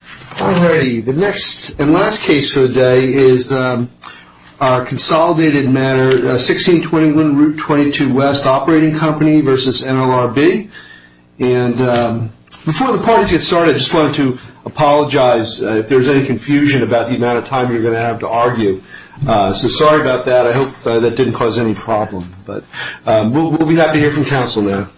Alrighty, the next and last case for the day is our consolidated matter 1621 Route 22 West Operating Company v. NLRB And before the parties get started, I just wanted to apologize if there's any confusion about the amount of time you're going to have to argue So sorry about that, I hope that didn't cause any problem We'll be happy to hear from counsel now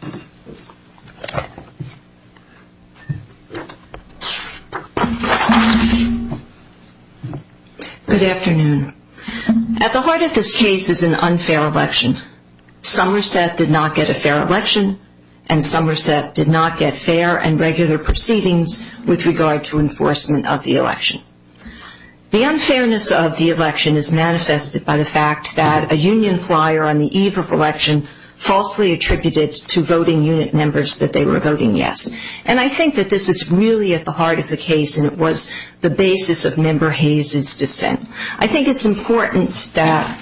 Good afternoon, at the heart of this case is an unfair election Somerset did not get a fair election and Somerset did not get fair and regular proceedings with regard to enforcement of the election The unfairness of the election is manifested by the fact that a union flyer on the eve of election falsely attributed to voting unit members that they were voting yes And I think that this is really at the heart of the case and it was the basis of Member Hayes' dissent I think it's important that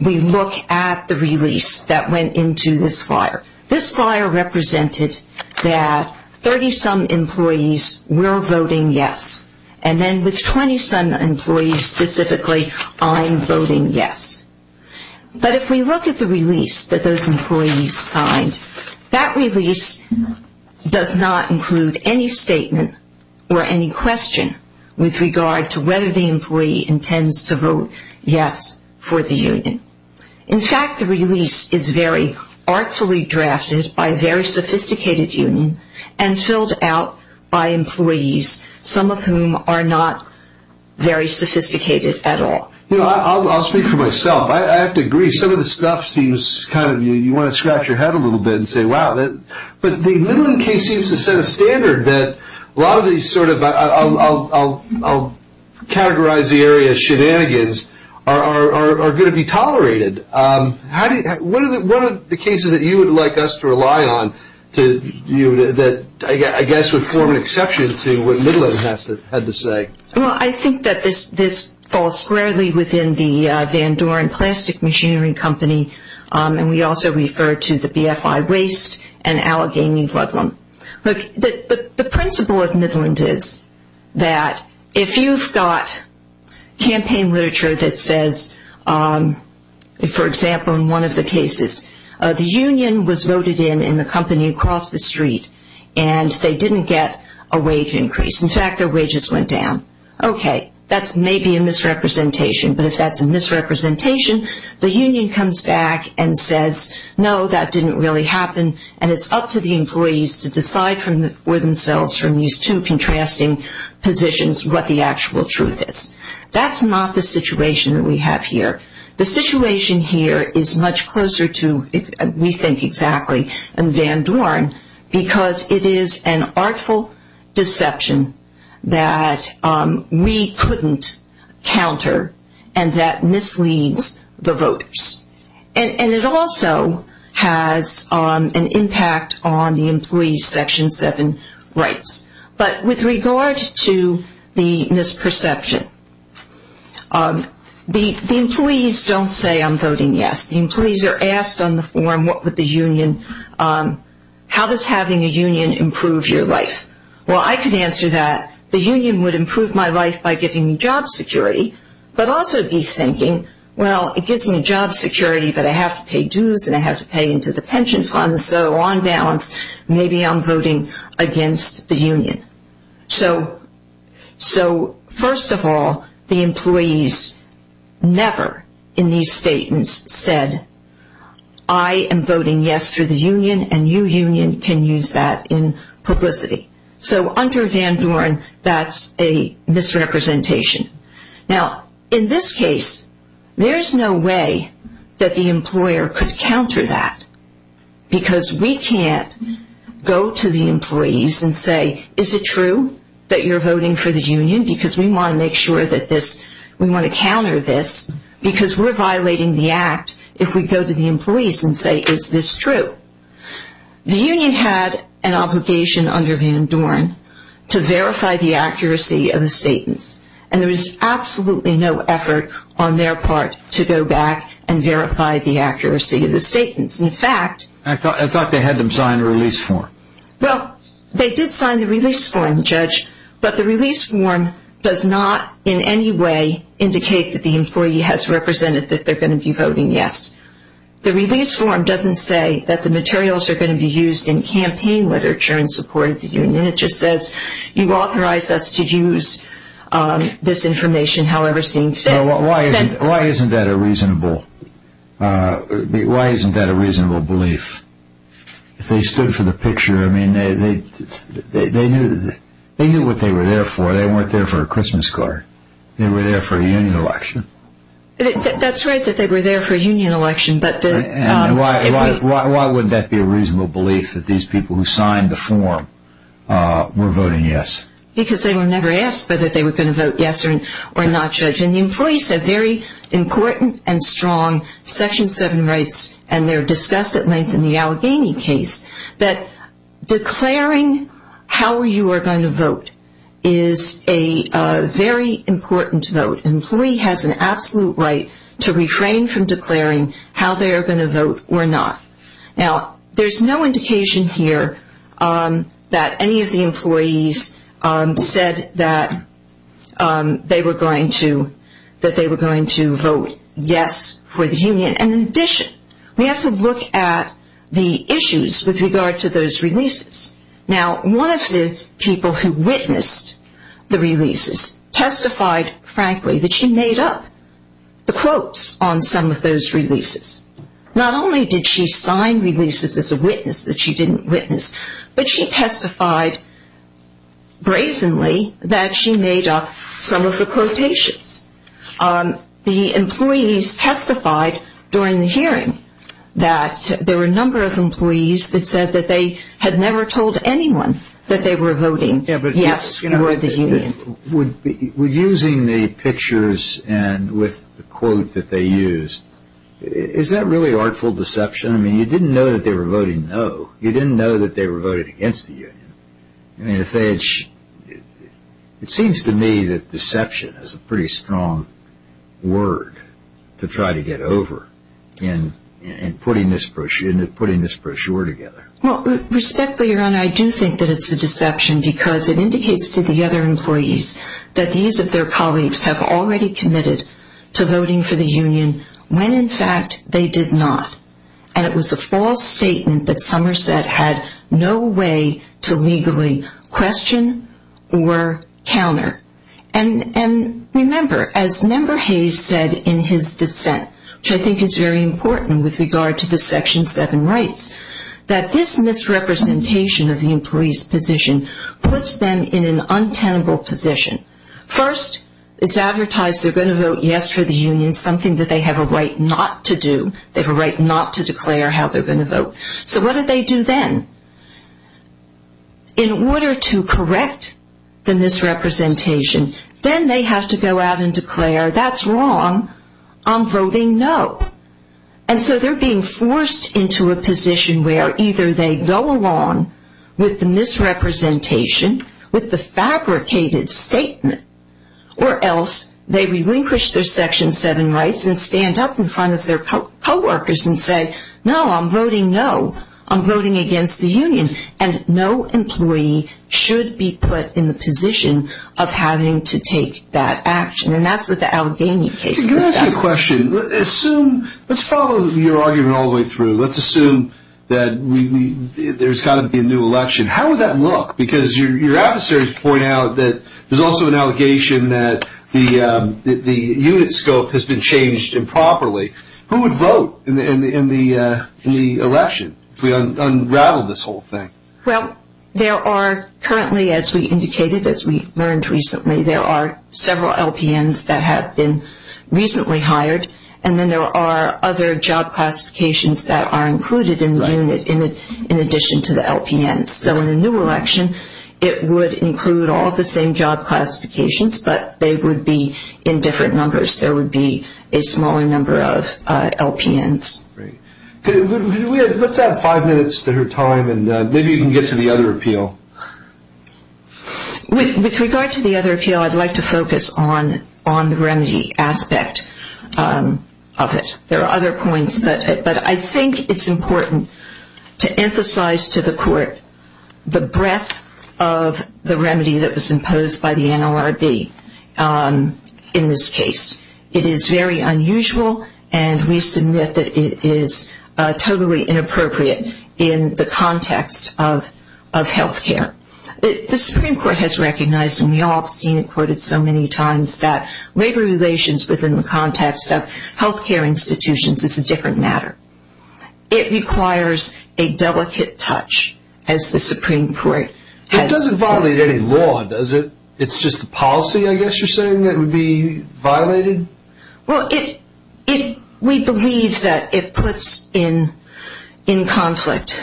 we look at the release that went into this flyer This flyer represented that 30-some employees were voting yes and then with 20-some employees specifically, I'm voting yes But if we look at the release that those employees signed, that release does not include any statement or any question with regard to whether the employee intends to vote yes for the union In fact, the release is very artfully drafted by a very sophisticated union and filled out by employees, some of whom are not very sophisticated at all I'll speak for myself, I have to agree, some of the stuff seems kind of, you want to scratch your head a little bit and say wow But the Midland case seems to set a standard that a lot of these sort of, I'll categorize the area as shenanigans, are going to be tolerated What are the cases that you would like us to rely on, that I guess would form an exception to what Midland had to say? Well, I think that this falls squarely within the Van Doren Plastic Machinery Company and we also refer to the BFI Waste and Allegheny Flood Lump But the principle of Midland is that if you've got campaign literature that says, for example, in one of the cases, the union was voted in in the company across the street And they didn't get a wage increase. In fact, their wages went down. Okay, that's maybe a misrepresentation, but if that's a misrepresentation, the union comes back and says No, that didn't really happen, and it's up to the employees to decide for themselves from these two contrasting positions what the actual truth is That's not the situation that we have here. The situation here is much closer to, we think exactly, Van Doren because it is an artful deception that we couldn't counter and that misleads the voters And it also has an impact on the employee's Section 7 rights. But with regard to the misperception, the employees don't say, I'm voting yes. The employees are asked on the forum, how does having a union improve your life? Well, I could answer that the union would improve my life by giving me job security But also be thinking, well, it gives me job security, but I have to pay dues and I have to pay into the pension fund, so on balance, maybe I'm voting against the union. So, first of all, the employees never in these statements said, I am voting yes for the union and you union can use that in publicity. So, under Van Doren, that's a misrepresentation. Now, in this case, there's no way that the employer could counter that. Because we can't go to the employees and say, is it true that you're voting for the union? Because we want to make sure that this, we want to counter this, because we're violating the act if we go to the employees and say, is this true? The union had an obligation under Van Doren to verify the accuracy of the statements and there was absolutely no effort on their part to go back and verify the accuracy of the statements. In fact, I thought they had them sign a release form. Well, they did sign the release form, Judge, but the release form does not in any way indicate that the employee has represented that they're going to be voting yes. The release form doesn't say that the materials are going to be used in campaign literature in support of the union. It just says, you authorize us to use this information however seems fit. Why isn't that a reasonable belief? If they stood for the picture, I mean, they knew what they were there for. They weren't there for a Christmas card. They were there for a union election. That's right that they were there for a union election. Why would that be a reasonable belief that these people who signed the form were voting yes? Because they were never asked whether they were going to vote yes or not, Judge. And the employees have very important and strong Section 7 rights and they're discussed at length in the Allegheny case that declaring how you are going to vote is a very important vote. An employee has an absolute right to refrain from declaring how they are going to vote or not. Now, there's no indication here that any of the employees said that they were going to vote yes for the union. And in addition, we have to look at the issues with regard to those releases. Now, one of the people who witnessed the releases testified, frankly, that she made up the quotes on some of those releases. Not only did she sign releases as a witness that she didn't witness, but she testified brazenly that she made up some of the quotations. The employees testified during the hearing that there were a number of employees that said that they had never told anyone that they were voting yes for the union. Using the pictures and with the quote that they used, is that really artful deception? I mean, you didn't know that they were voting no. You didn't know that they were voting against the union. It seems to me that deception is a pretty strong word to try to get over in putting this brochure together. Well, respectfully, your honor, I do think that it's a deception because it indicates to the other employees that these of their colleagues have already committed to voting for the union when, in fact, they did not. And it was a false statement that Somerset had no way to legally question or counter. And remember, as Member Hayes said in his dissent, which I think is very important with regard to the Section 7 rights, that this misrepresentation of the employees' position puts them in an untenable position. First, it's advertised they're going to vote yes for the union, something that they have a right not to do. They have a right not to declare how they're going to vote. So what do they do then? In order to correct the misrepresentation, then they have to go out and declare that's wrong. I'm voting no. And so they're being forced into a position where either they go along with the misrepresentation, with the fabricated statement, or else they relinquish their Section 7 rights and stand up in front of their coworkers and say, no, I'm voting no. I'm voting against the union. And no employee should be put in the position of having to take that action. And that's what the Algenia case discusses. I have a question. Let's follow your argument all the way through. Let's assume that there's got to be a new election. How would that look? Because your adversaries point out that there's also an allegation that the unit scope has been changed improperly. Who would vote in the election if we unraveled this whole thing? Well, there are currently, as we indicated, as we learned recently, there are several LPNs that have been recently hired, and then there are other job classifications that are included in the unit in addition to the LPNs. So in a new election, it would include all the same job classifications, but they would be in different numbers. There would be a smaller number of LPNs. Let's have five minutes to her time, and maybe you can get to the other appeal. With regard to the other appeal, I'd like to focus on the remedy aspect of it. There are other points, but I think it's important to emphasize to the court the breadth of the remedy that was imposed by the NLRB in this case. It is very unusual, and we submit that it is totally inappropriate in the context of health care. The Supreme Court has recognized, and we all have seen it quoted so many times, that labor relations within the context of health care institutions is a different matter. It requires a delicate touch, as the Supreme Court has said. It doesn't violate any law, does it? It's just the policy, I guess you're saying, that would be violated? Well, we believe that it puts in conflict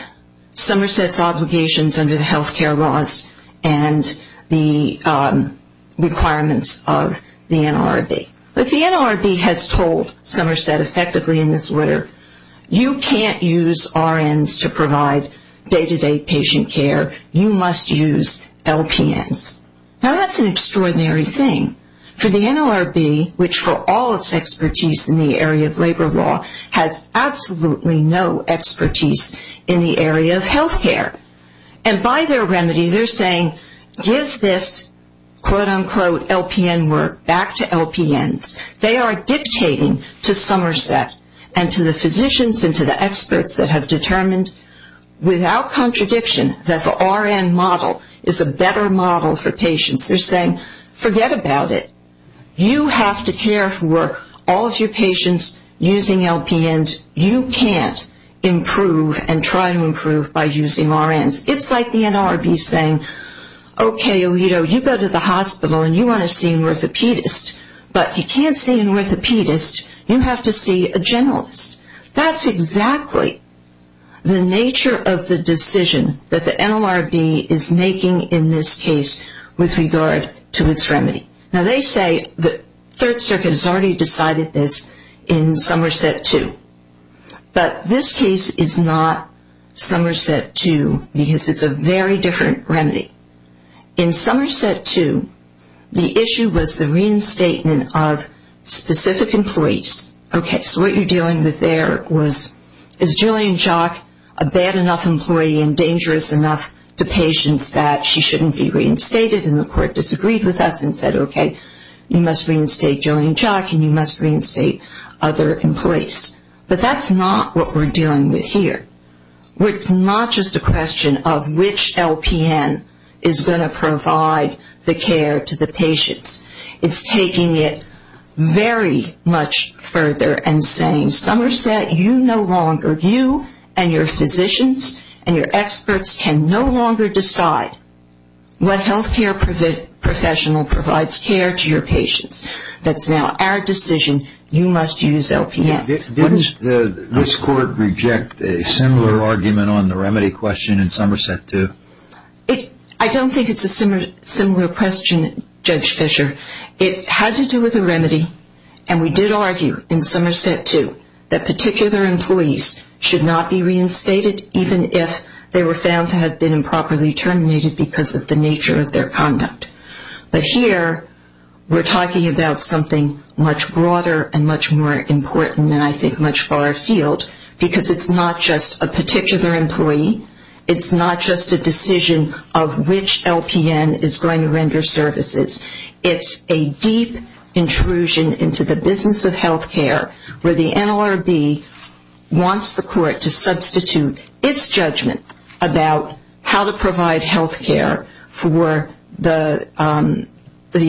Somerset's obligations under the health care laws and the requirements of the NLRB. But the NLRB has told Somerset effectively in this letter, you can't use RNs to provide day-to-day patient care. You must use LPNs. Now, that's an extraordinary thing for the NLRB, which for all its expertise in the area of labor law, has absolutely no expertise in the area of health care. And by their remedy, they're saying, give this, quote, unquote, LPN work back to LPNs. They are dictating to Somerset and to the physicians and to the experts that have determined, without contradiction, that the RN model is a better model for patients. They're saying, forget about it. You have to care for all of your patients using LPNs. You can't improve and try to improve by using RNs. It's like the NLRB saying, okay, Alito, you go to the hospital and you want to see an orthopedist, but you can't see an orthopedist, you have to see a generalist. That's exactly the nature of the decision that the NLRB is making in this case with regard to its remedy. Now, they say the Third Circuit has already decided this in Somerset 2, but this case is not Somerset 2 because it's a very different remedy. In Somerset 2, the issue was the reinstatement of specific employees. Okay, so what you're dealing with there was, is Jillian Chock a bad enough employee and dangerous enough to patients that she shouldn't be reinstated? And the court disagreed with us and said, okay, you must reinstate Jillian Chock and you must reinstate other employees. But that's not what we're dealing with here. It's not just a question of which LPN is going to provide the care to the patients. It's taking it very much further and saying, Somerset, you no longer, you and your physicians and your experts can no longer decide what health care professional provides care to your patients. That's now our decision. You must use LPNs. Didn't this court reject a similar argument on the remedy question in Somerset 2? I don't think it's a similar question, Judge Fischer. It had to do with the remedy, and we did argue in Somerset 2 that particular employees should not be reinstated even if they were found to have been improperly terminated because of the nature of their conduct. But here we're talking about something much broader and much more important and I think much far afield because it's not just a particular employee. It's not just a decision of which LPN is going to render services. It's a deep intrusion into the business of health care where the NLRB wants the court to substitute its judgment about how to provide health care for the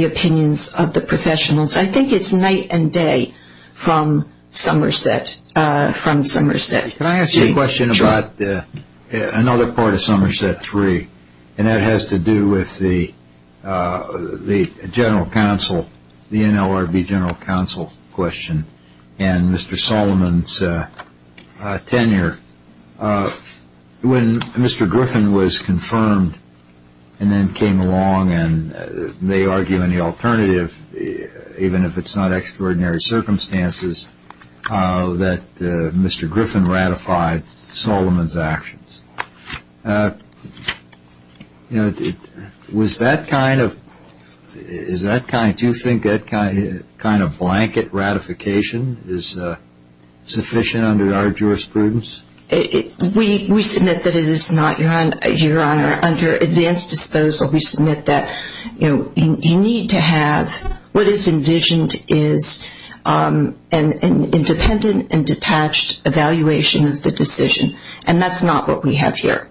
opinions of the professionals. I think it's night and day from Somerset. Can I ask you a question about another part of Somerset 3, and that has to do with the NLRB general counsel question and Mr. Solomon's tenure. When Mr. Griffin was confirmed and then came along and may argue any alternative, even if it's not extraordinary circumstances, that Mr. Griffin ratified Solomon's actions. Do you think that kind of blanket ratification is sufficient under our jurisprudence? We submit that it is not, Your Honor. Under advanced disposal, we submit that you need to have what is envisioned as an independent and detached evaluation of the decision, and that's not what we have here.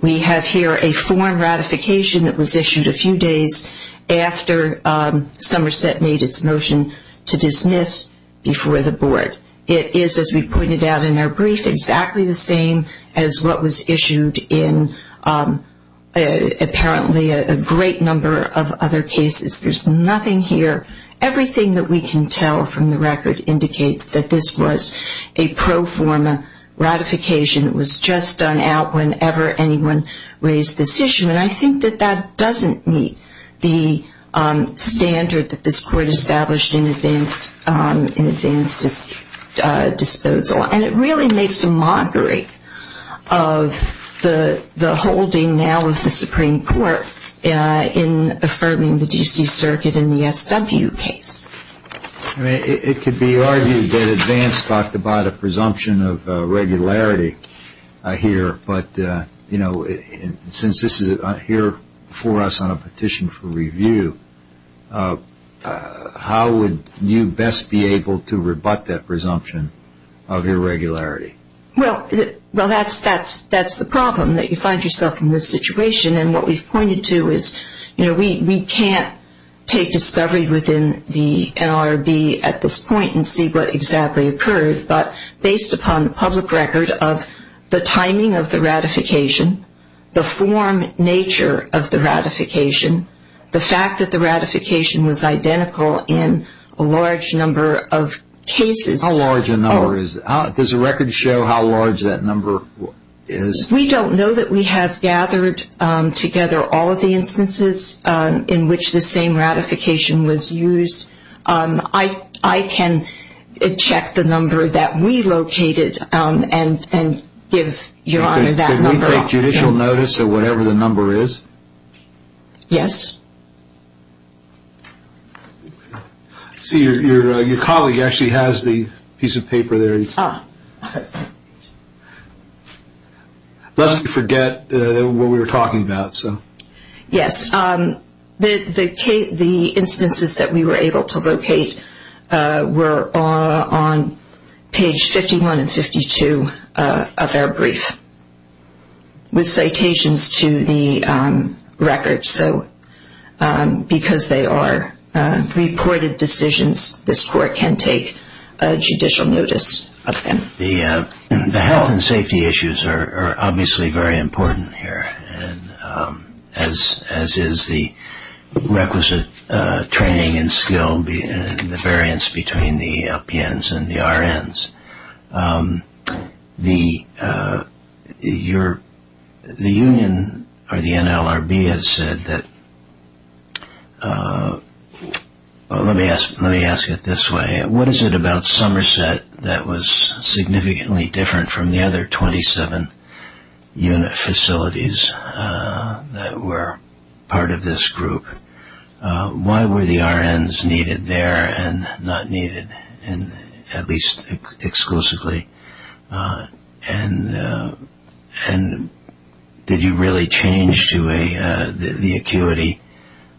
We have here a form ratification that was issued a few days after Somerset made its motion to dismiss before the board. It is, as we pointed out in our brief, exactly the same as what was issued in apparently a great number of other cases. There's nothing here. Everything that we can tell from the record indicates that this was a pro forma ratification. It was just done out whenever anyone raised this issue, and I think that that doesn't meet the standard that this Court established in advanced disposal, and it really makes a mockery of the holding now of the Supreme Court in affirming the D.C. Circuit in the SW case. It could be argued that advance talked about a presumption of regularity here, but since this is here for us on a petition for review, how would you best be able to rebut that presumption of irregularity? Well, that's the problem, that you find yourself in this situation, and what we've pointed to is we can't take discovery within the NLRB at this point and see what exactly occurred, but based upon the public record of the timing of the ratification, the form nature of the ratification, the fact that the ratification was identical in a large number of cases. How large a number is that? Does the record show how large that number is? We don't know that we have gathered together all of the instances in which the same ratification was used. I can check the number that we located and give Your Honor that number. You can take judicial notice of whatever the number is? Yes. See, your colleague actually has the piece of paper there. Ah. Lest we forget what we were talking about. Yes, the instances that we were able to locate were on page 51 and 52 of our brief with citations to the record, so because they are reported decisions, this court can take judicial notice of them. The health and safety issues are obviously very important here, as is the requisite training and skill and the variance between the LPNs and the RNs. The union or the NLRB has said that, well, let me ask it this way. What is it about Somerset that was significantly different from the other 27 unit facilities that were part of this group? Why were the RNs needed there and not needed, at least exclusively? And did you really change the acuity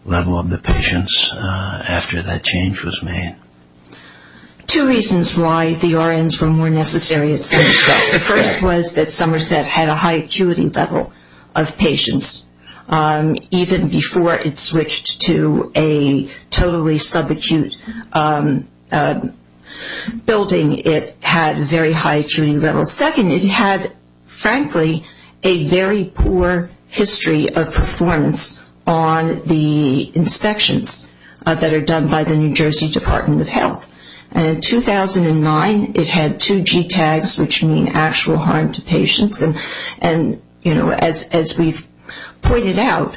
level of the patients after that change was made? Two reasons why the RNs were more necessary, it seems. The first was that Somerset had a high acuity level of patients. Even before it switched to a totally subacute building, it had very high acuity levels. Second, it had, frankly, a very poor history of performance on the inspections that are done by the New Jersey Department of Health. And in 2009, it had two G tags, which mean actual harm to patients. And, you know, as we've pointed out,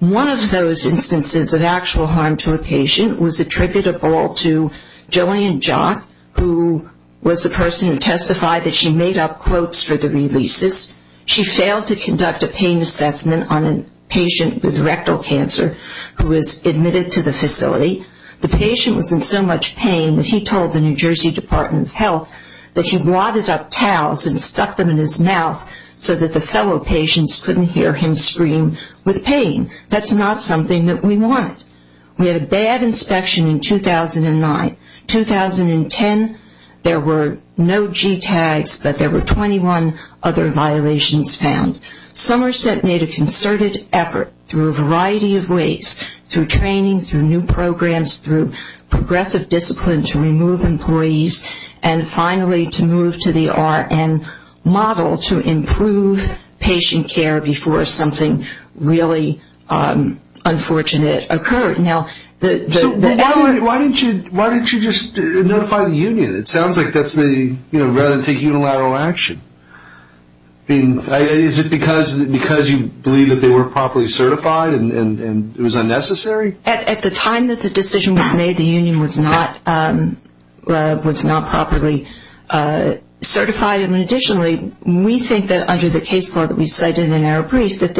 one of those instances of actual harm to a patient was attributable to Joanne Jock, who was the person who testified that she made up quotes for the releases. She failed to conduct a pain assessment on a patient with rectal cancer who was admitted to the facility. The patient was in so much pain that he told the New Jersey Department of Health that he wadded up towels and stuck them in his mouth so that the fellow patients couldn't hear him scream with pain. That's not something that we wanted. We had a bad inspection in 2009. 2010, there were no G tags, but there were 21 other violations found. Somerset made a concerted effort through a variety of ways, through training, through new programs, through progressive discipline to remove employees, and finally to move to the RN model to improve patient care before something really unfortunate occurred. So why don't you just notify the union? It sounds like that's the, you know, rather than take unilateral action. Is it because you believe that they weren't properly certified and it was unnecessary? At the time that the decision was made, the union was not properly certified. And additionally, we think that under the case law that we cited in our brief, that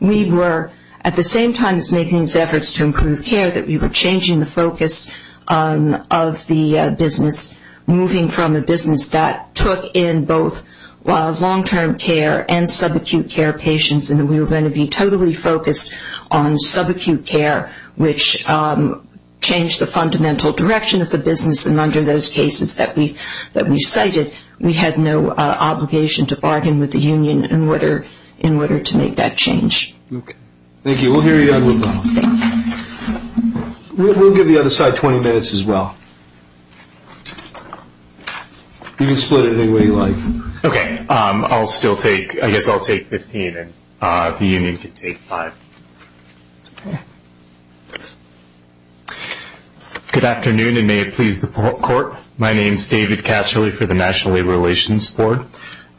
we were at the same time as making these efforts to improve care, that we were changing the focus of the business, moving from a business that took in both long-term care and subacute care patients and that we were going to be totally focused on subacute care, which changed the fundamental direction of the business. And under those cases that we cited, we had no obligation to bargain with the union in order to make that change. Okay. Thank you. We'll hear you out in a little while. We'll give the other side 20 minutes as well. You can split it any way you like. Okay. I'll still take, I guess I'll take 15 and the union can take five. Okay. Good afternoon, and may it please the court. My name is David Casserly for the National Labor Relations Board.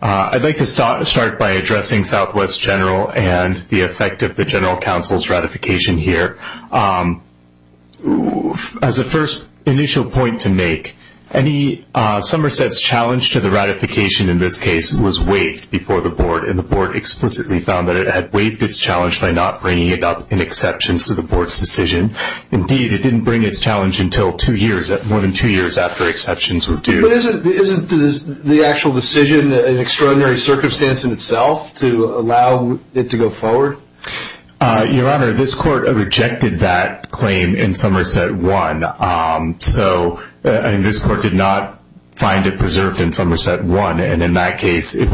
I'd like to start by addressing Southwest General and the effect of the general counsel's ratification here. As a first initial point to make, Somerset's challenge to the ratification in this case was waived before the board, and the board explicitly found that it had waived its challenge by not bringing it up in exceptions to the board's decision. Indeed, it didn't bring its challenge until two years, more than two years after exceptions were due. But isn't the actual decision an extraordinary circumstance in itself to allow it to go forward? Your Honor, this court rejected that claim in Somerset 1, so this court did not find it preserved in Somerset 1, and in that case, if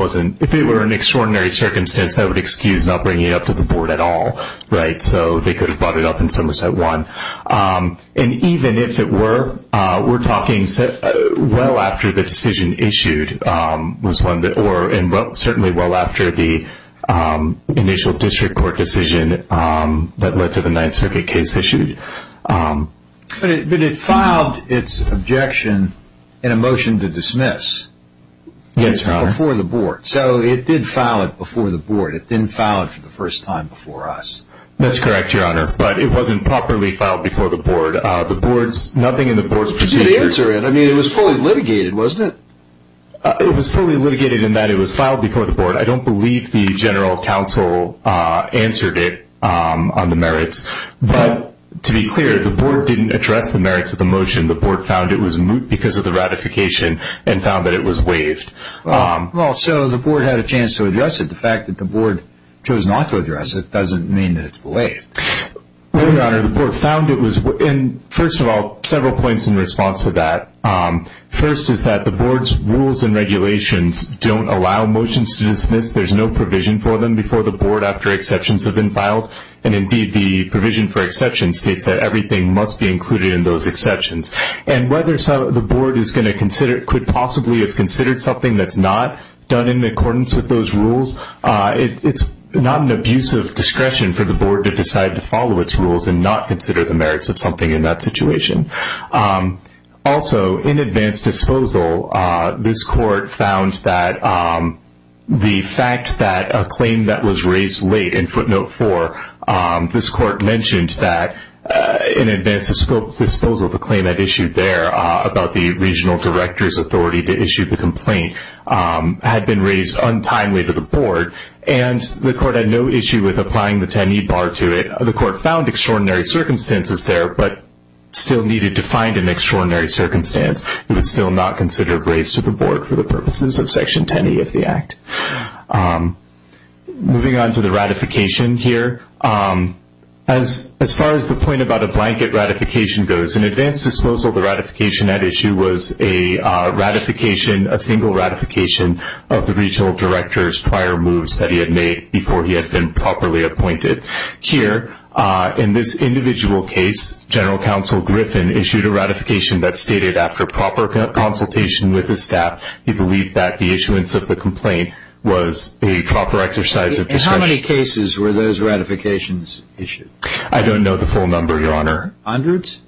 it were an extraordinary circumstance, that would excuse not bringing it up to the board at all, right? So they could have brought it up in Somerset 1. And even if it were, we're talking well after the decision issued, and certainly well after the initial district court decision that led to the Ninth Circuit case issued. But it filed its objection in a motion to dismiss. Yes, Your Honor. Before the board. So it did file it before the board. It didn't file it for the first time before us. That's correct, Your Honor. But it wasn't properly filed before the board. The board's, nothing in the board's procedure. I mean, it was fully litigated, wasn't it? It was fully litigated in that it was filed before the board. I don't believe the general counsel answered it on the merits. But to be clear, the board didn't address the merits of the motion. The board found it was moot because of the ratification and found that it was waived. Well, so the board had a chance to address it. The fact that the board chose not to address it doesn't mean that it's waived. Well, Your Honor, the board found it was, and first of all, several points in response to that. First is that the board's rules and regulations don't allow motions to dismiss. There's no provision for them before the board after exceptions have been filed. And, indeed, the provision for exceptions states that everything must be included in those exceptions. And whether the board could possibly have considered something that's not done in accordance with those rules, it's not an abuse of discretion for the board to decide to follow its rules and not consider the merits of something in that situation. Also, in advance disposal, this court found that the fact that a claim that was raised late in footnote 4, this court mentioned that in advance of scope disposal, the claim had issued there about the regional director's authority to issue the complaint had been raised untimely to the board, and the court had no issue with applying the 10E bar to it. The court found extraordinary circumstances there, but still needed to find an extraordinary circumstance. It was still not considered raised to the board for the purposes of Section 10E of the Act. Moving on to the ratification here, as far as the point about a blanket ratification goes, in advance disposal, the ratification at issue was a ratification, a single ratification of the regional director's prior moves that he had made before he had been properly appointed. Here, in this individual case, General Counsel Griffin issued a ratification that stated, after proper consultation with the staff, he believed that the issuance of the complaint was a proper exercise of discretion. And how many cases were those ratifications issued? I don't know the full number, Your Honor. Hundreds?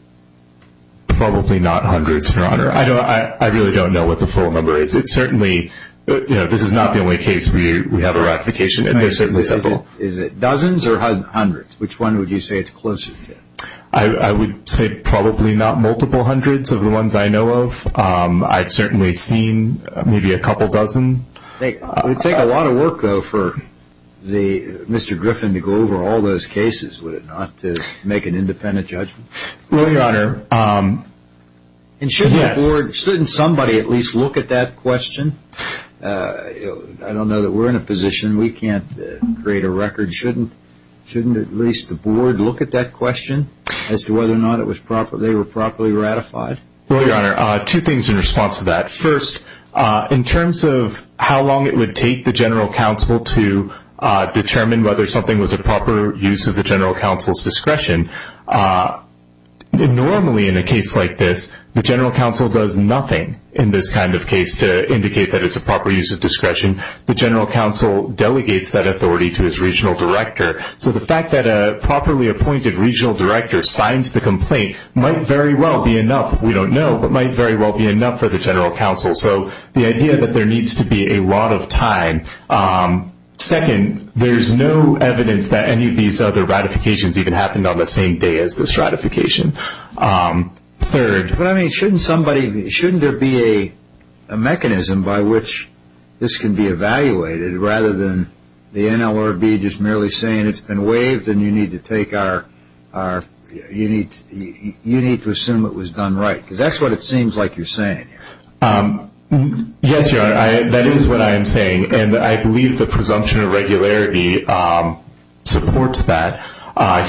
Probably not hundreds, Your Honor. I really don't know what the full number is. It's certainly, you know, this is not the only case we have a ratification, and there's certainly several. Is it dozens or hundreds? Which one would you say it's closer to? I would say probably not multiple hundreds of the ones I know of. I've certainly seen maybe a couple dozen. It would take a lot of work, though, for Mr. Griffin to go over all those cases, would it not, to make an independent judgment? Well, Your Honor, yes. And shouldn't somebody at least look at that question? I don't know that we're in a position, we can't create a record. Shouldn't at least the Board look at that question as to whether or not they were properly ratified? Well, Your Honor, two things in response to that. First, in terms of how long it would take the General Counsel to determine whether something was a proper use of the General Counsel's discretion, normally in a case like this, the General Counsel does nothing in this kind of case to indicate that it's a proper use of discretion. The General Counsel delegates that authority to his Regional Director. So the fact that a properly appointed Regional Director signed the complaint might very well be enough, we don't know, but might very well be enough for the General Counsel. So the idea that there needs to be a lot of time. Second, there's no evidence that any of these other ratifications even happened on the same day as this ratification. Third, shouldn't there be a mechanism by which this can be evaluated, rather than the NLRB just merely saying it's been waived and you need to assume it was done right? Because that's what it seems like you're saying. Yes, Your Honor, that is what I am saying. And I believe the presumption of regularity supports that.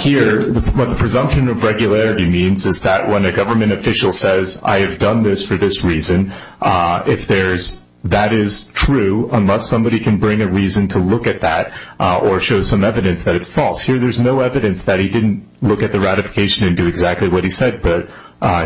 Here, what the presumption of regularity means is that when a government official says, I have done this for this reason, that is true unless somebody can bring a reason to look at that or show some evidence that it's false. Here, there's no evidence that he didn't look at the ratification and do exactly what he said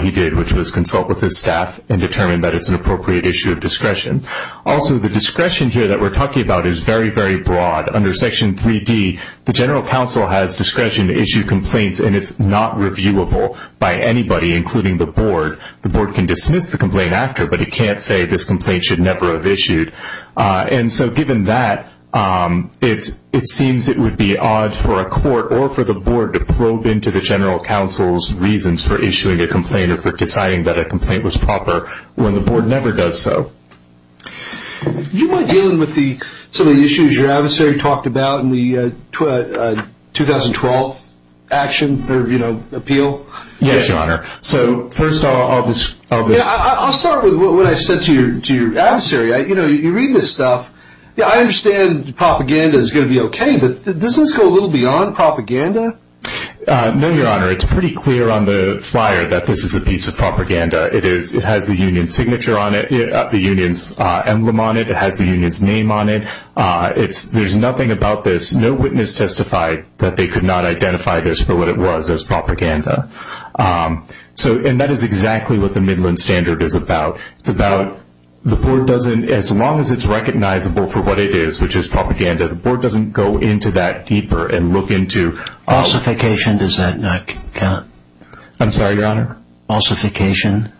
he did, which was consult with his staff and determine that it's an appropriate issue of discretion. Also, the discretion here that we're talking about is very, very broad. Under Section 3D, the General Counsel has discretion to issue complaints, and it's not reviewable by anybody, including the Board. The Board can dismiss the complaint after, but it can't say this complaint should never have issued. And so given that, it seems it would be odd for a court or for the Board to probe into the General Counsel's reasons for issuing a complaint or for deciding that a complaint was proper when the Board never does so. Do you mind dealing with some of the issues your adversary talked about in the 2012 action or appeal? Yes, Your Honor. So first, I'll just... I'll start with what I said to your adversary. You read this stuff. I understand propaganda is going to be okay, but does this go a little beyond propaganda? No, Your Honor. It has the union's emblem on it. It has the union's name on it. There's nothing about this. No witness testified that they could not identify this for what it was as propaganda. And that is exactly what the Midland Standard is about. It's about the Board doesn't, as long as it's recognizable for what it is, which is propaganda, the Board doesn't go into that deeper and look into... I'm sorry, Your Honor? Falsification?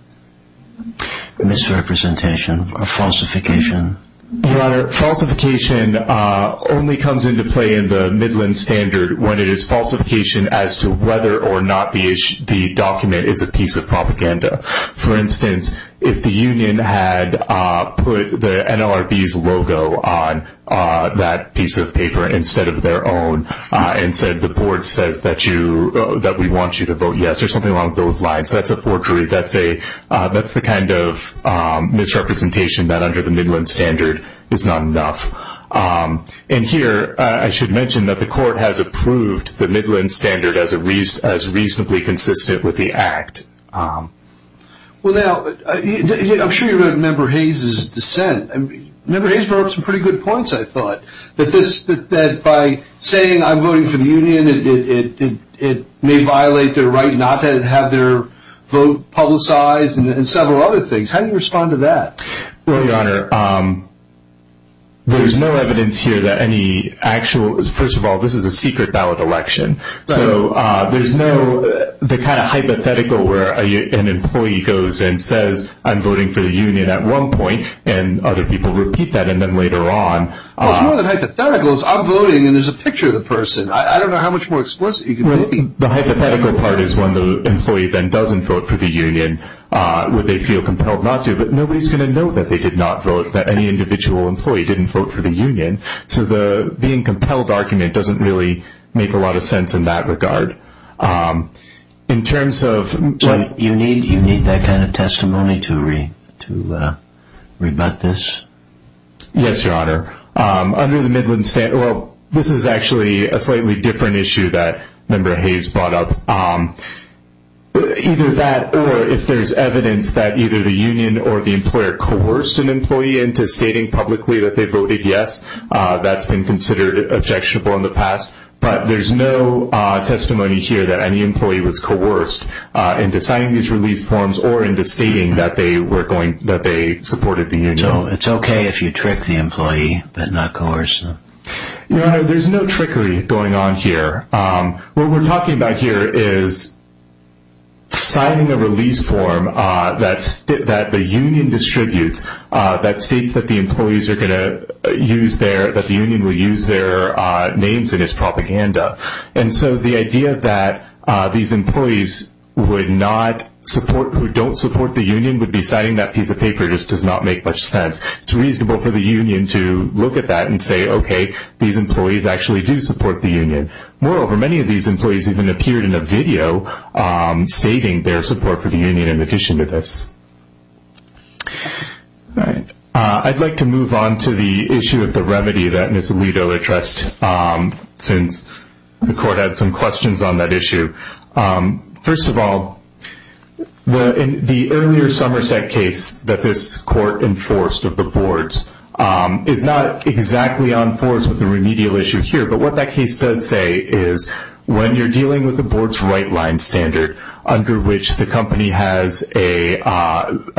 Misrepresentation or falsification? Your Honor, falsification only comes into play in the Midland Standard when it is falsification as to whether or not the document is a piece of propaganda. For instance, if the union had put the NLRB's logo on that piece of paper instead of their own and said the Board says that we want you to vote yes or something along those lines, that's a forgery. That's the kind of misrepresentation that under the Midland Standard is not enough. And here I should mention that the Court has approved the Midland Standard as reasonably consistent with the Act. Well, now, I'm sure you remember Hayes' dissent. Member Hayes brought up some pretty good points, I thought, that by saying I'm voting for the union, it may violate their right not to have their vote publicized and several other things. How do you respond to that? Well, Your Honor, there's no evidence here that any actual... First of all, this is a secret ballot election, so there's no... It's more than hypothetical where an employee goes and says I'm voting for the union at one point and other people repeat that and then later on... Well, it's more than hypothetical. It's I'm voting and there's a picture of the person. I don't know how much more explicit you can be. Well, the hypothetical part is when the employee then doesn't vote for the union, would they feel compelled not to? But nobody's going to know that they did not vote, that any individual employee didn't vote for the union. So the being compelled argument doesn't really make a lot of sense in that regard. In terms of... You need that kind of testimony to rebut this? Yes, Your Honor. Under the Midland... Well, this is actually a slightly different issue that Member Hayes brought up. Either that or if there's evidence that either the union or the employer coerced an employee into stating publicly that they voted yes, that's been considered objectionable in the past. But there's no testimony here that any employee was coerced into signing these release forms or into stating that they supported the union. So it's okay if you trick the employee but not coerce them? Your Honor, there's no trickery going on here. What we're talking about here is signing a release form that the union distributes that states that the union will use their names in its propaganda. And so the idea that these employees who don't support the union would be signing that piece of paper just does not make much sense. It's reasonable for the union to look at that and say, okay, these employees actually do support the union. Moreover, many of these employees even appeared in a video stating their support for the union in addition to this. All right. I'd like to move on to the issue of the remedy that Ms. Alito addressed since the court had some questions on that issue. First of all, the earlier Somerset case that this court enforced of the boards is not exactly on force with the remedial issue here. But what that case does say is when you're dealing with the board's right-line standard under which the company has an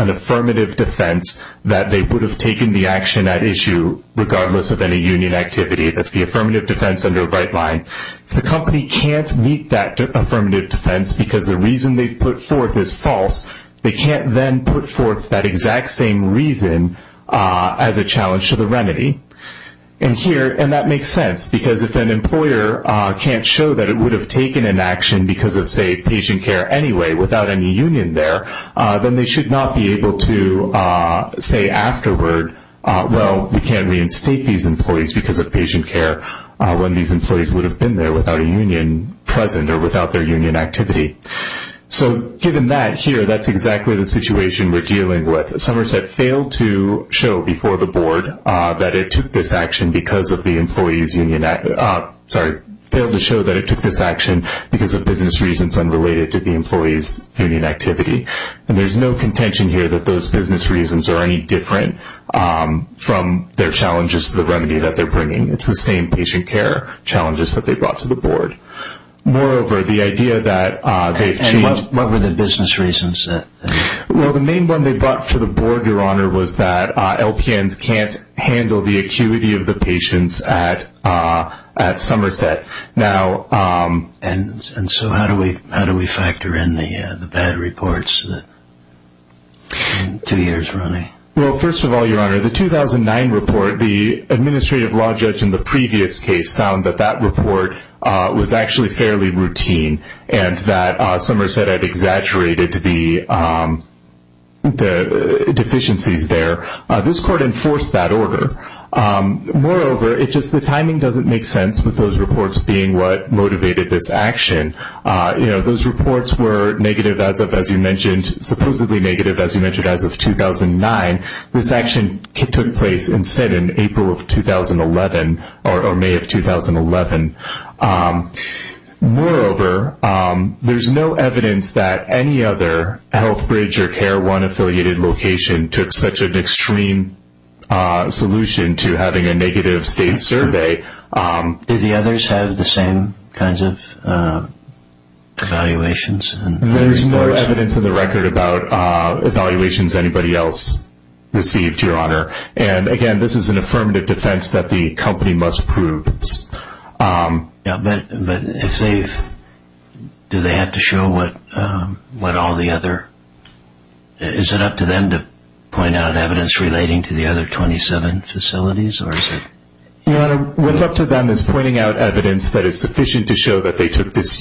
affirmative defense that they would have taken the action at issue regardless of any union activity. That's the affirmative defense under a right line. If the company can't meet that affirmative defense because the reason they put forth is false, they can't then put forth that exact same reason as a challenge to the remedy. And that makes sense because if an employer can't show that it would have taken an action because of, say, patient care anyway without any union there, then they should not be able to say afterward, well, we can't reinstate these employees because of patient care when these employees would have been there without a union present or without their union activity. So given that here, that's exactly the situation we're dealing with. Somerset failed to show before the board that it took this action because of the employees' union activity. Sorry, failed to show that it took this action because of business reasons unrelated to the employees' union activity. And there's no contention here that those business reasons are any different from their challenges to the remedy that they're bringing. It's the same patient care challenges that they brought to the board. Moreover, the idea that they've changed. And what were the business reasons? Well, the main one they brought to the board, Your Honor, was that LPNs can't handle the acuity of the patients at Somerset. And so how do we factor in the bad reports? Two years running. Well, first of all, Your Honor, the 2009 report, the administrative law judge in the previous case found that that report was actually fairly routine and that Somerset had exaggerated the deficiencies there. This court enforced that order. Moreover, it's just the timing doesn't make sense with those reports being what motivated this action. You know, those reports were negative, as you mentioned, supposedly negative, as you mentioned, as of 2009. This action took place instead in April of 2011 or May of 2011. Moreover, there's no evidence that any other health bridge or care one affiliated location took such an extreme solution to having a negative state survey. Did the others have the same kinds of evaluations? There's no evidence in the record about evaluations anybody else received, Your Honor. And again, this is an affirmative defense that the company must prove. But do they have to show what all the other – is it up to them to point out evidence relating to the other 27 facilities or is it – Your Honor, what's up to them is pointing out evidence that is sufficient to show that they took this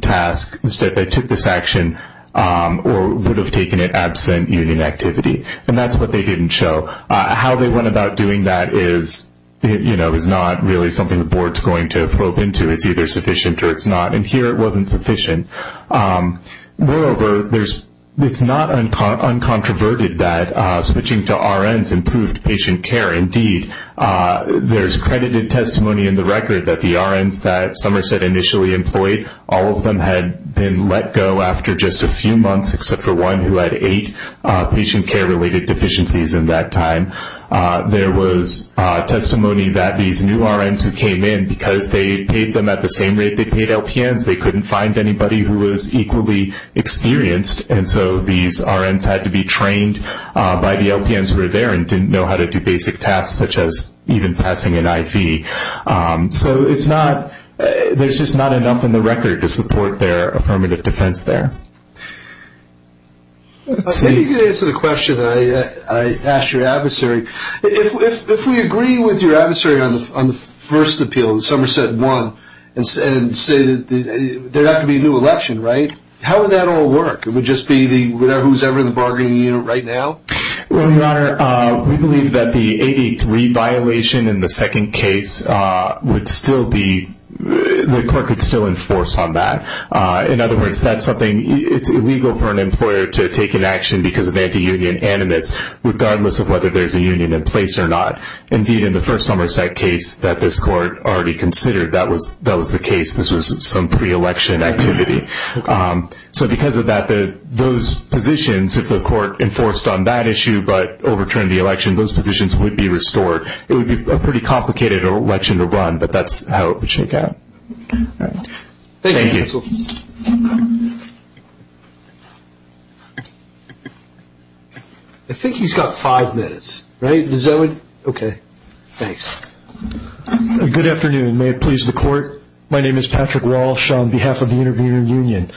task, that they took this action, or would have taken it absent union activity. And that's what they didn't show. How they went about doing that is not really something the board is going to probe into. It's either sufficient or it's not. And here it wasn't sufficient. Moreover, it's not uncontroverted that switching to RNs improved patient care. Indeed, there's credited testimony in the record that the RNs that Somerset initially employed, all of them had been let go after just a few months, except for one who had eight patient care-related deficiencies in that time. There was testimony that these new RNs who came in, because they paid them at the same rate they paid LPNs, they couldn't find anybody who was equally experienced. And so these RNs had to be trained by the LPNs who were there and didn't know how to do basic tasks such as even passing an IV. So there's just not enough in the record to support their affirmative defense there. I think you can answer the question I asked your adversary. If we agree with your adversary on the first appeal, Somerset won, and say that there's got to be a new election, right, how would that all work? It would just be who's ever in the bargaining unit right now? Well, Your Honor, we believe that the 883 violation in the second case would still be— the court could still enforce on that. In other words, that's something—it's illegal for an employer to take an action because of anti-union animus, regardless of whether there's a union in place or not. Indeed, in the first Somerset case that this court already considered, that was the case. This was some pre-election activity. So because of that, those positions, if the court enforced on that issue but overturned the election, those positions would be restored. It would be a pretty complicated election to run, but that's how it would shake out. Thank you, counsel. I think he's got five minutes, right? Okay, thanks. Good afternoon. May it please the court. My name is Patrick Walsh on behalf of the Intervening Union.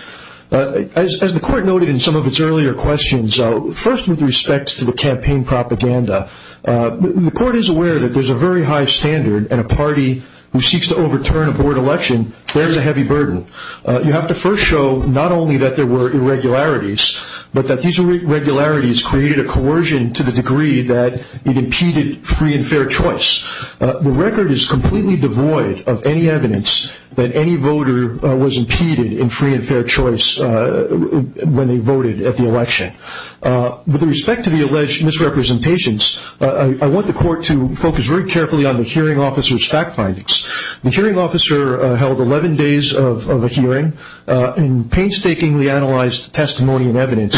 As the court noted in some of its earlier questions, first with respect to the campaign propaganda, the court is aware that there's a very high standard, and a party who seeks to overturn a board election bears a heavy burden. You have to first show not only that there were irregularities, but that these irregularities created a coercion to the degree that it impeded free and fair choice. The record is completely devoid of any evidence that any voter was impeded in free and fair choice when they voted at the election. With respect to the alleged misrepresentations, I want the court to focus very carefully on the hearing officer's fact findings. The hearing officer held 11 days of a hearing and painstakingly analyzed testimony and evidence,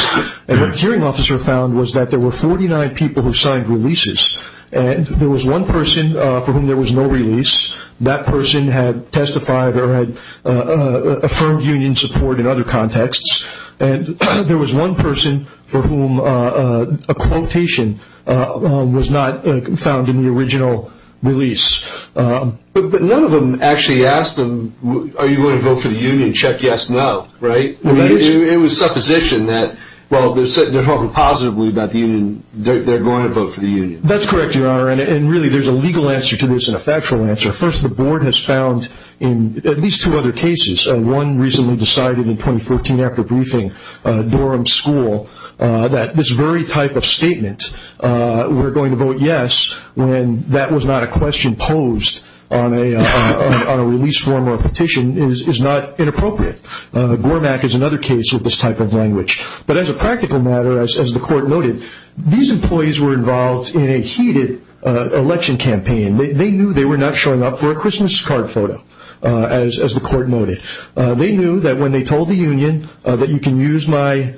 and what the hearing officer found was that there were 49 people who signed releases, and there was one person for whom there was no release. That person had testified or had affirmed union support in other contexts, and there was one person for whom a quotation was not found in the original release. But none of them actually asked them, are you going to vote for the union? Check yes, no, right? It was supposition that, well, they're talking positively about the union. They're going to vote for the union. That's correct, Your Honor, and really there's a legal answer to this and a factual answer. First, the board has found in at least two other cases, one recently decided in 2014 after briefing Durham School, that this very type of statement, we're going to vote yes, when that was not a question posed on a release form or a petition, is not inappropriate. GORMAC is another case of this type of language. But as a practical matter, as the court noted, these employees were involved in a heated election campaign. They knew they were not showing up for a Christmas card photo, as the court noted. They knew that when they told the union that you can use my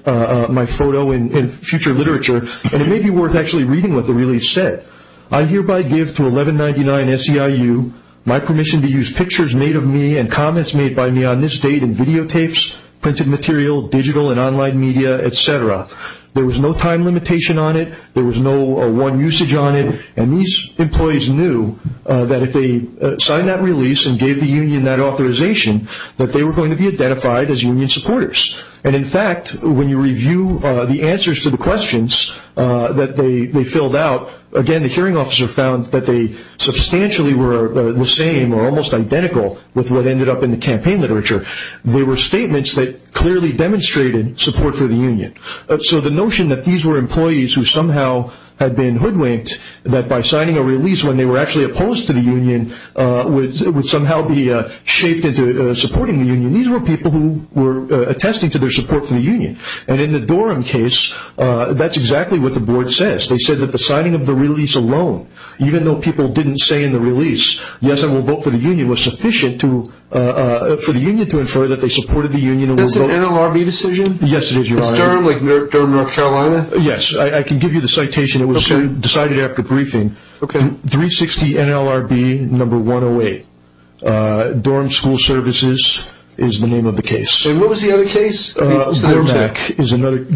photo in future literature and it may be worth actually reading what the release said, I hereby give to 1199 SEIU my permission to use pictures made of me and comments made by me on this date in videotapes, printed material, digital and online media, et cetera. There was no time limitation on it. There was no one usage on it. And these employees knew that if they signed that release and gave the union that authorization, that they were going to be identified as union supporters. And in fact, when you review the answers to the questions that they filled out, again, the hearing officer found that they substantially were the same or almost identical with what ended up in the campaign literature. They were statements that clearly demonstrated support for the union. So the notion that these were employees who somehow had been hoodwinked, that by signing a release when they were actually opposed to the union, would somehow be shaped into supporting the union, these were people who were attesting to their support for the union. And in the DORM case, that's exactly what the board says. They said that the signing of the release alone, even though people didn't say in the release, yes, I will vote for the union, was sufficient for the union to infer that they supported the union. That's an NLRB decision? Yes, it is, Your Honor. Is DORM like DORM North Carolina? Yes. I can give you the citation. It was decided after briefing. 360 NLRB number 108. DORM School Services is the name of the case. And what was the other case? Gore-Mack.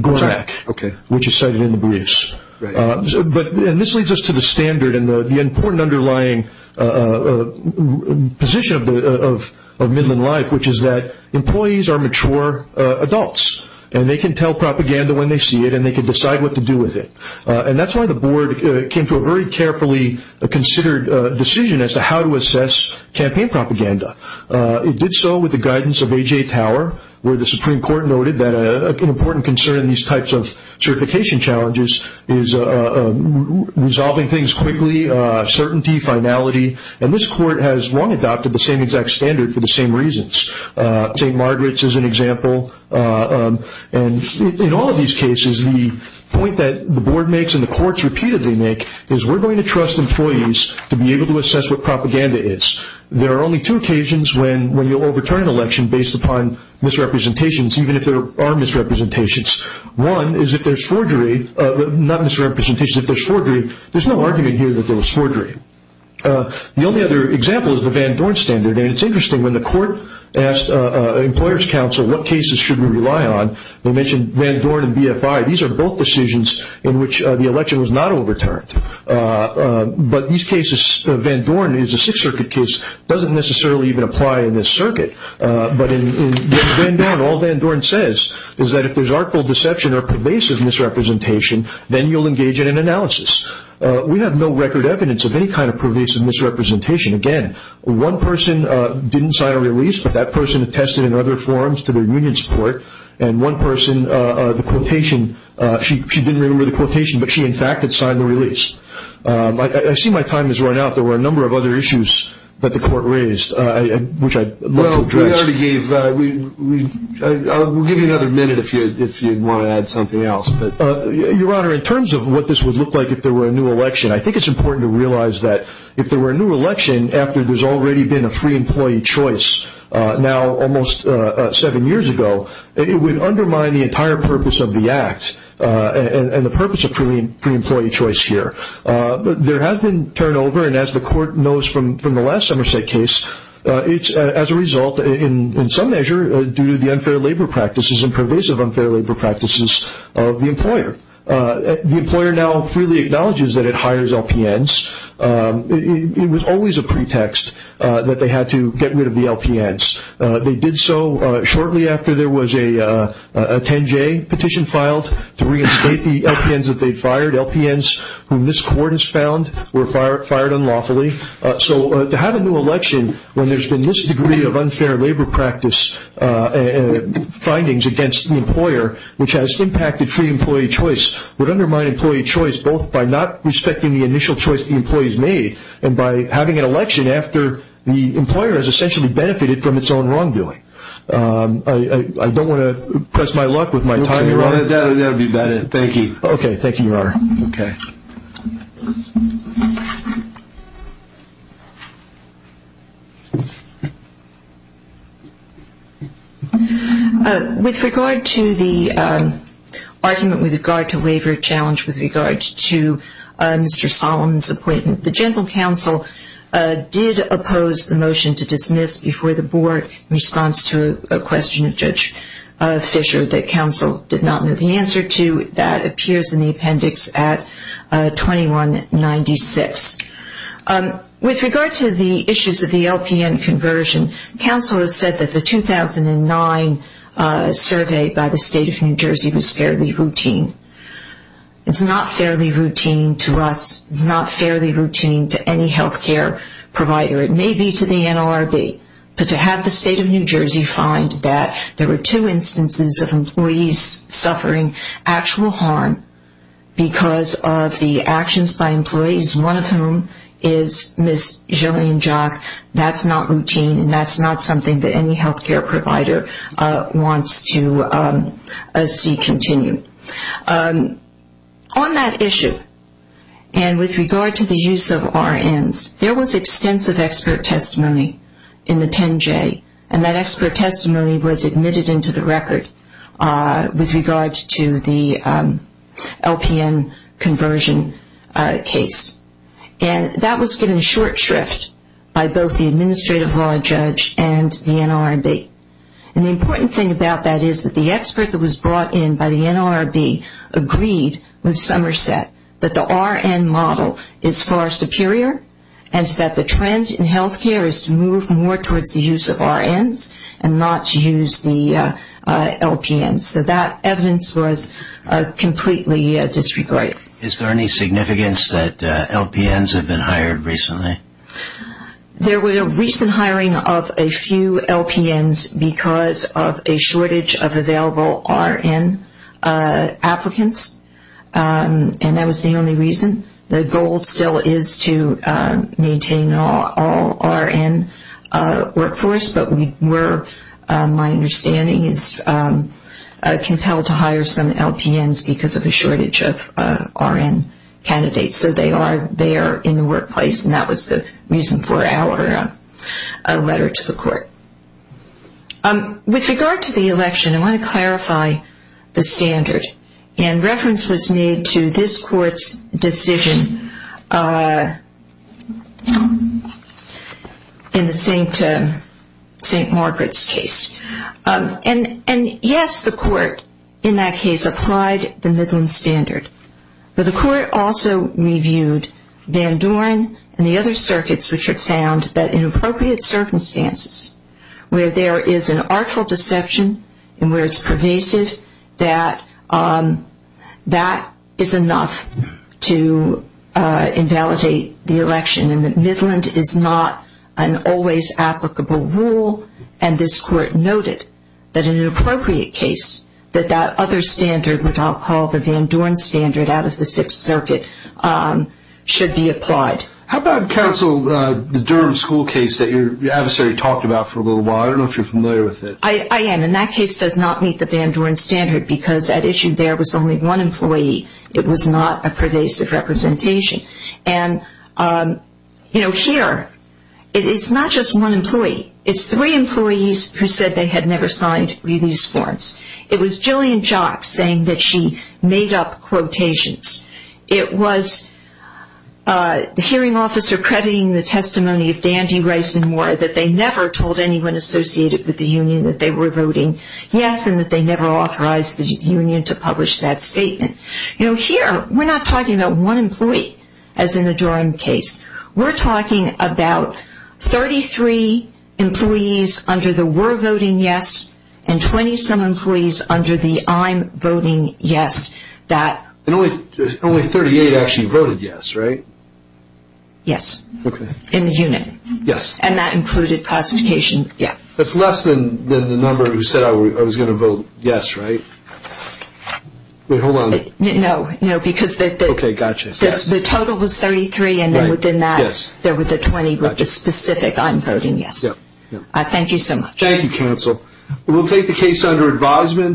Gore-Mack, which is cited in the briefs. And this leads us to the standard and the important underlying position of Midland Life, which is that employees are mature adults, and they can tell propaganda when they see it, and they can decide what to do with it. And that's why the board came to a very carefully considered decision as to how to assess campaign propaganda. It did so with the guidance of A.J. Tower, where the Supreme Court noted that an important concern in these types of certification challenges is resolving things quickly, certainty, finality. And this court has long adopted the same exact standard for the same reasons. St. Margaret's is an example. And in all of these cases, the point that the board makes and the courts repeatedly make is we're going to trust employees to be able to assess what propaganda is. There are only two occasions when you'll overturn an election based upon misrepresentations, even if there are misrepresentations. One is if there's forgery. Not misrepresentations. If there's forgery, there's no argument here that there was forgery. The only other example is the Van Dorn standard. And it's interesting. When the court asked an employer's counsel what cases should we rely on, they mentioned Van Dorn and BFI. These are both decisions in which the election was not overturned. But these cases, Van Dorn is a Sixth Circuit case. It doesn't necessarily even apply in this circuit. But in Van Dorn, all Van Dorn says is that if there's artful deception or pervasive misrepresentation, then you'll engage in an analysis. We have no record evidence of any kind of pervasive misrepresentation. Again, one person didn't sign a release, but that person attested in other forms to their union support. And one person, the quotation, she didn't remember the quotation, but she, in fact, had signed the release. I see my time has run out. There were a number of other issues that the court raised, which I'd love to address. Well, we already gave. We'll give you another minute if you want to add something else. Your Honor, in terms of what this would look like if there were a new election, I think it's important to realize that if there were a new election, after there's already been a free employee choice now almost seven years ago, it would undermine the entire purpose of the Act and the purpose of free employee choice here. But there has been turnover, and as the court knows from the last Somerset case, it's as a result, in some measure, due to the unfair labor practices and pervasive unfair labor practices of the employer. The employer now freely acknowledges that it hires LPNs. It was always a pretext that they had to get rid of the LPNs. They did so shortly after there was a 10-J petition filed to reinstate the LPNs that they'd fired. LPNs whom this court has found were fired unlawfully. So to have a new election when there's been this degree of unfair labor practice and findings against the employer, which has impacted free employee choice, would undermine employee choice both by not respecting the initial choice the employees made and by having an election after the employer has essentially benefited from its own wrongdoing. I don't want to press my luck with my time, Your Honor. That would be better. Thank you. Thank you, Your Honor. Okay. Thank you. With regard to the argument with regard to waiver challenge with regard to Mr. Solomon's appointment, the general counsel did oppose the motion to dismiss before the board in response to a question of Judge Fisher that counsel did not know the answer to. That appears in the appendix at 2196. With regard to the issues of the LPN conversion, counsel has said that the 2009 survey by the State of New Jersey was fairly routine. It's not fairly routine to us. It's not fairly routine to any health care provider. It may be to the NLRB, but to have the State of New Jersey find that there were two instances of employees suffering actual harm because of the actions by employees, one of whom is Ms. Jillian Jacques, that's not routine and that's not something that any health care provider wants to see continue. On that issue and with regard to the use of RNs, there was extensive expert testimony in the 10J, and that expert testimony was admitted into the record with regard to the LPN conversion case. And that was given short shrift by both the administrative law judge and the NLRB. And the important thing about that is that the expert that was brought in by the NLRB agreed with Somerset that the RN model is far superior and that the trend in health care is to move more towards the use of RNs and not to use the LPNs. So that evidence was completely disregarded. Is there any significance that LPNs have been hired recently? There was a recent hiring of a few LPNs because of a shortage of available RN applicants, and that was the only reason. The goal still is to maintain all RN workforce, but we were, my understanding, compelled to hire some LPNs because of a shortage of RN candidates. So they are there in the workplace, and that was the reason for our letter to the court. With regard to the election, I want to clarify the standard. And reference was made to this court's decision in the St. Margaret's case. And yes, the court in that case applied the Midland Standard, but the court also reviewed Van Doren and the other circuits which have found that in appropriate circumstances where there is an artful deception and where it's pervasive, that that is enough to invalidate the election and that Midland is not an always applicable rule. And this court noted that in an appropriate case that that other standard, which I'll call the Van Doren Standard out of the Sixth Circuit, should be applied. How about counsel, the Durham School case that your adversary talked about for a little while? I don't know if you're familiar with it. I am, and that case does not meet the Van Doren Standard because at issue there was only one employee. It was not a pervasive representation. And, you know, here, it's not just one employee. It's three employees who said they had never signed release forms. It was Jillian Jock saying that she made up quotations. It was the hearing officer crediting the testimony of Dandy, Rice, and Moore that they never told anyone associated with the union that they were voting yes and that they never authorized the union to publish that statement. You know, here, we're not talking about one employee as in the Durham case. We're talking about 33 employees under the we're voting yes and 20 some employees under the I'm voting yes. And only 38 actually voted yes, right? Yes. Okay. In the union. Yes. And that included classification. Yeah. That's less than the number who said I was going to vote yes, right? Wait, hold on. No, no, because the total was 33 and then within that there were the 20 with the specific I'm voting yes. Thank you so much. Thank you, counsel. We'll take the case under advisement.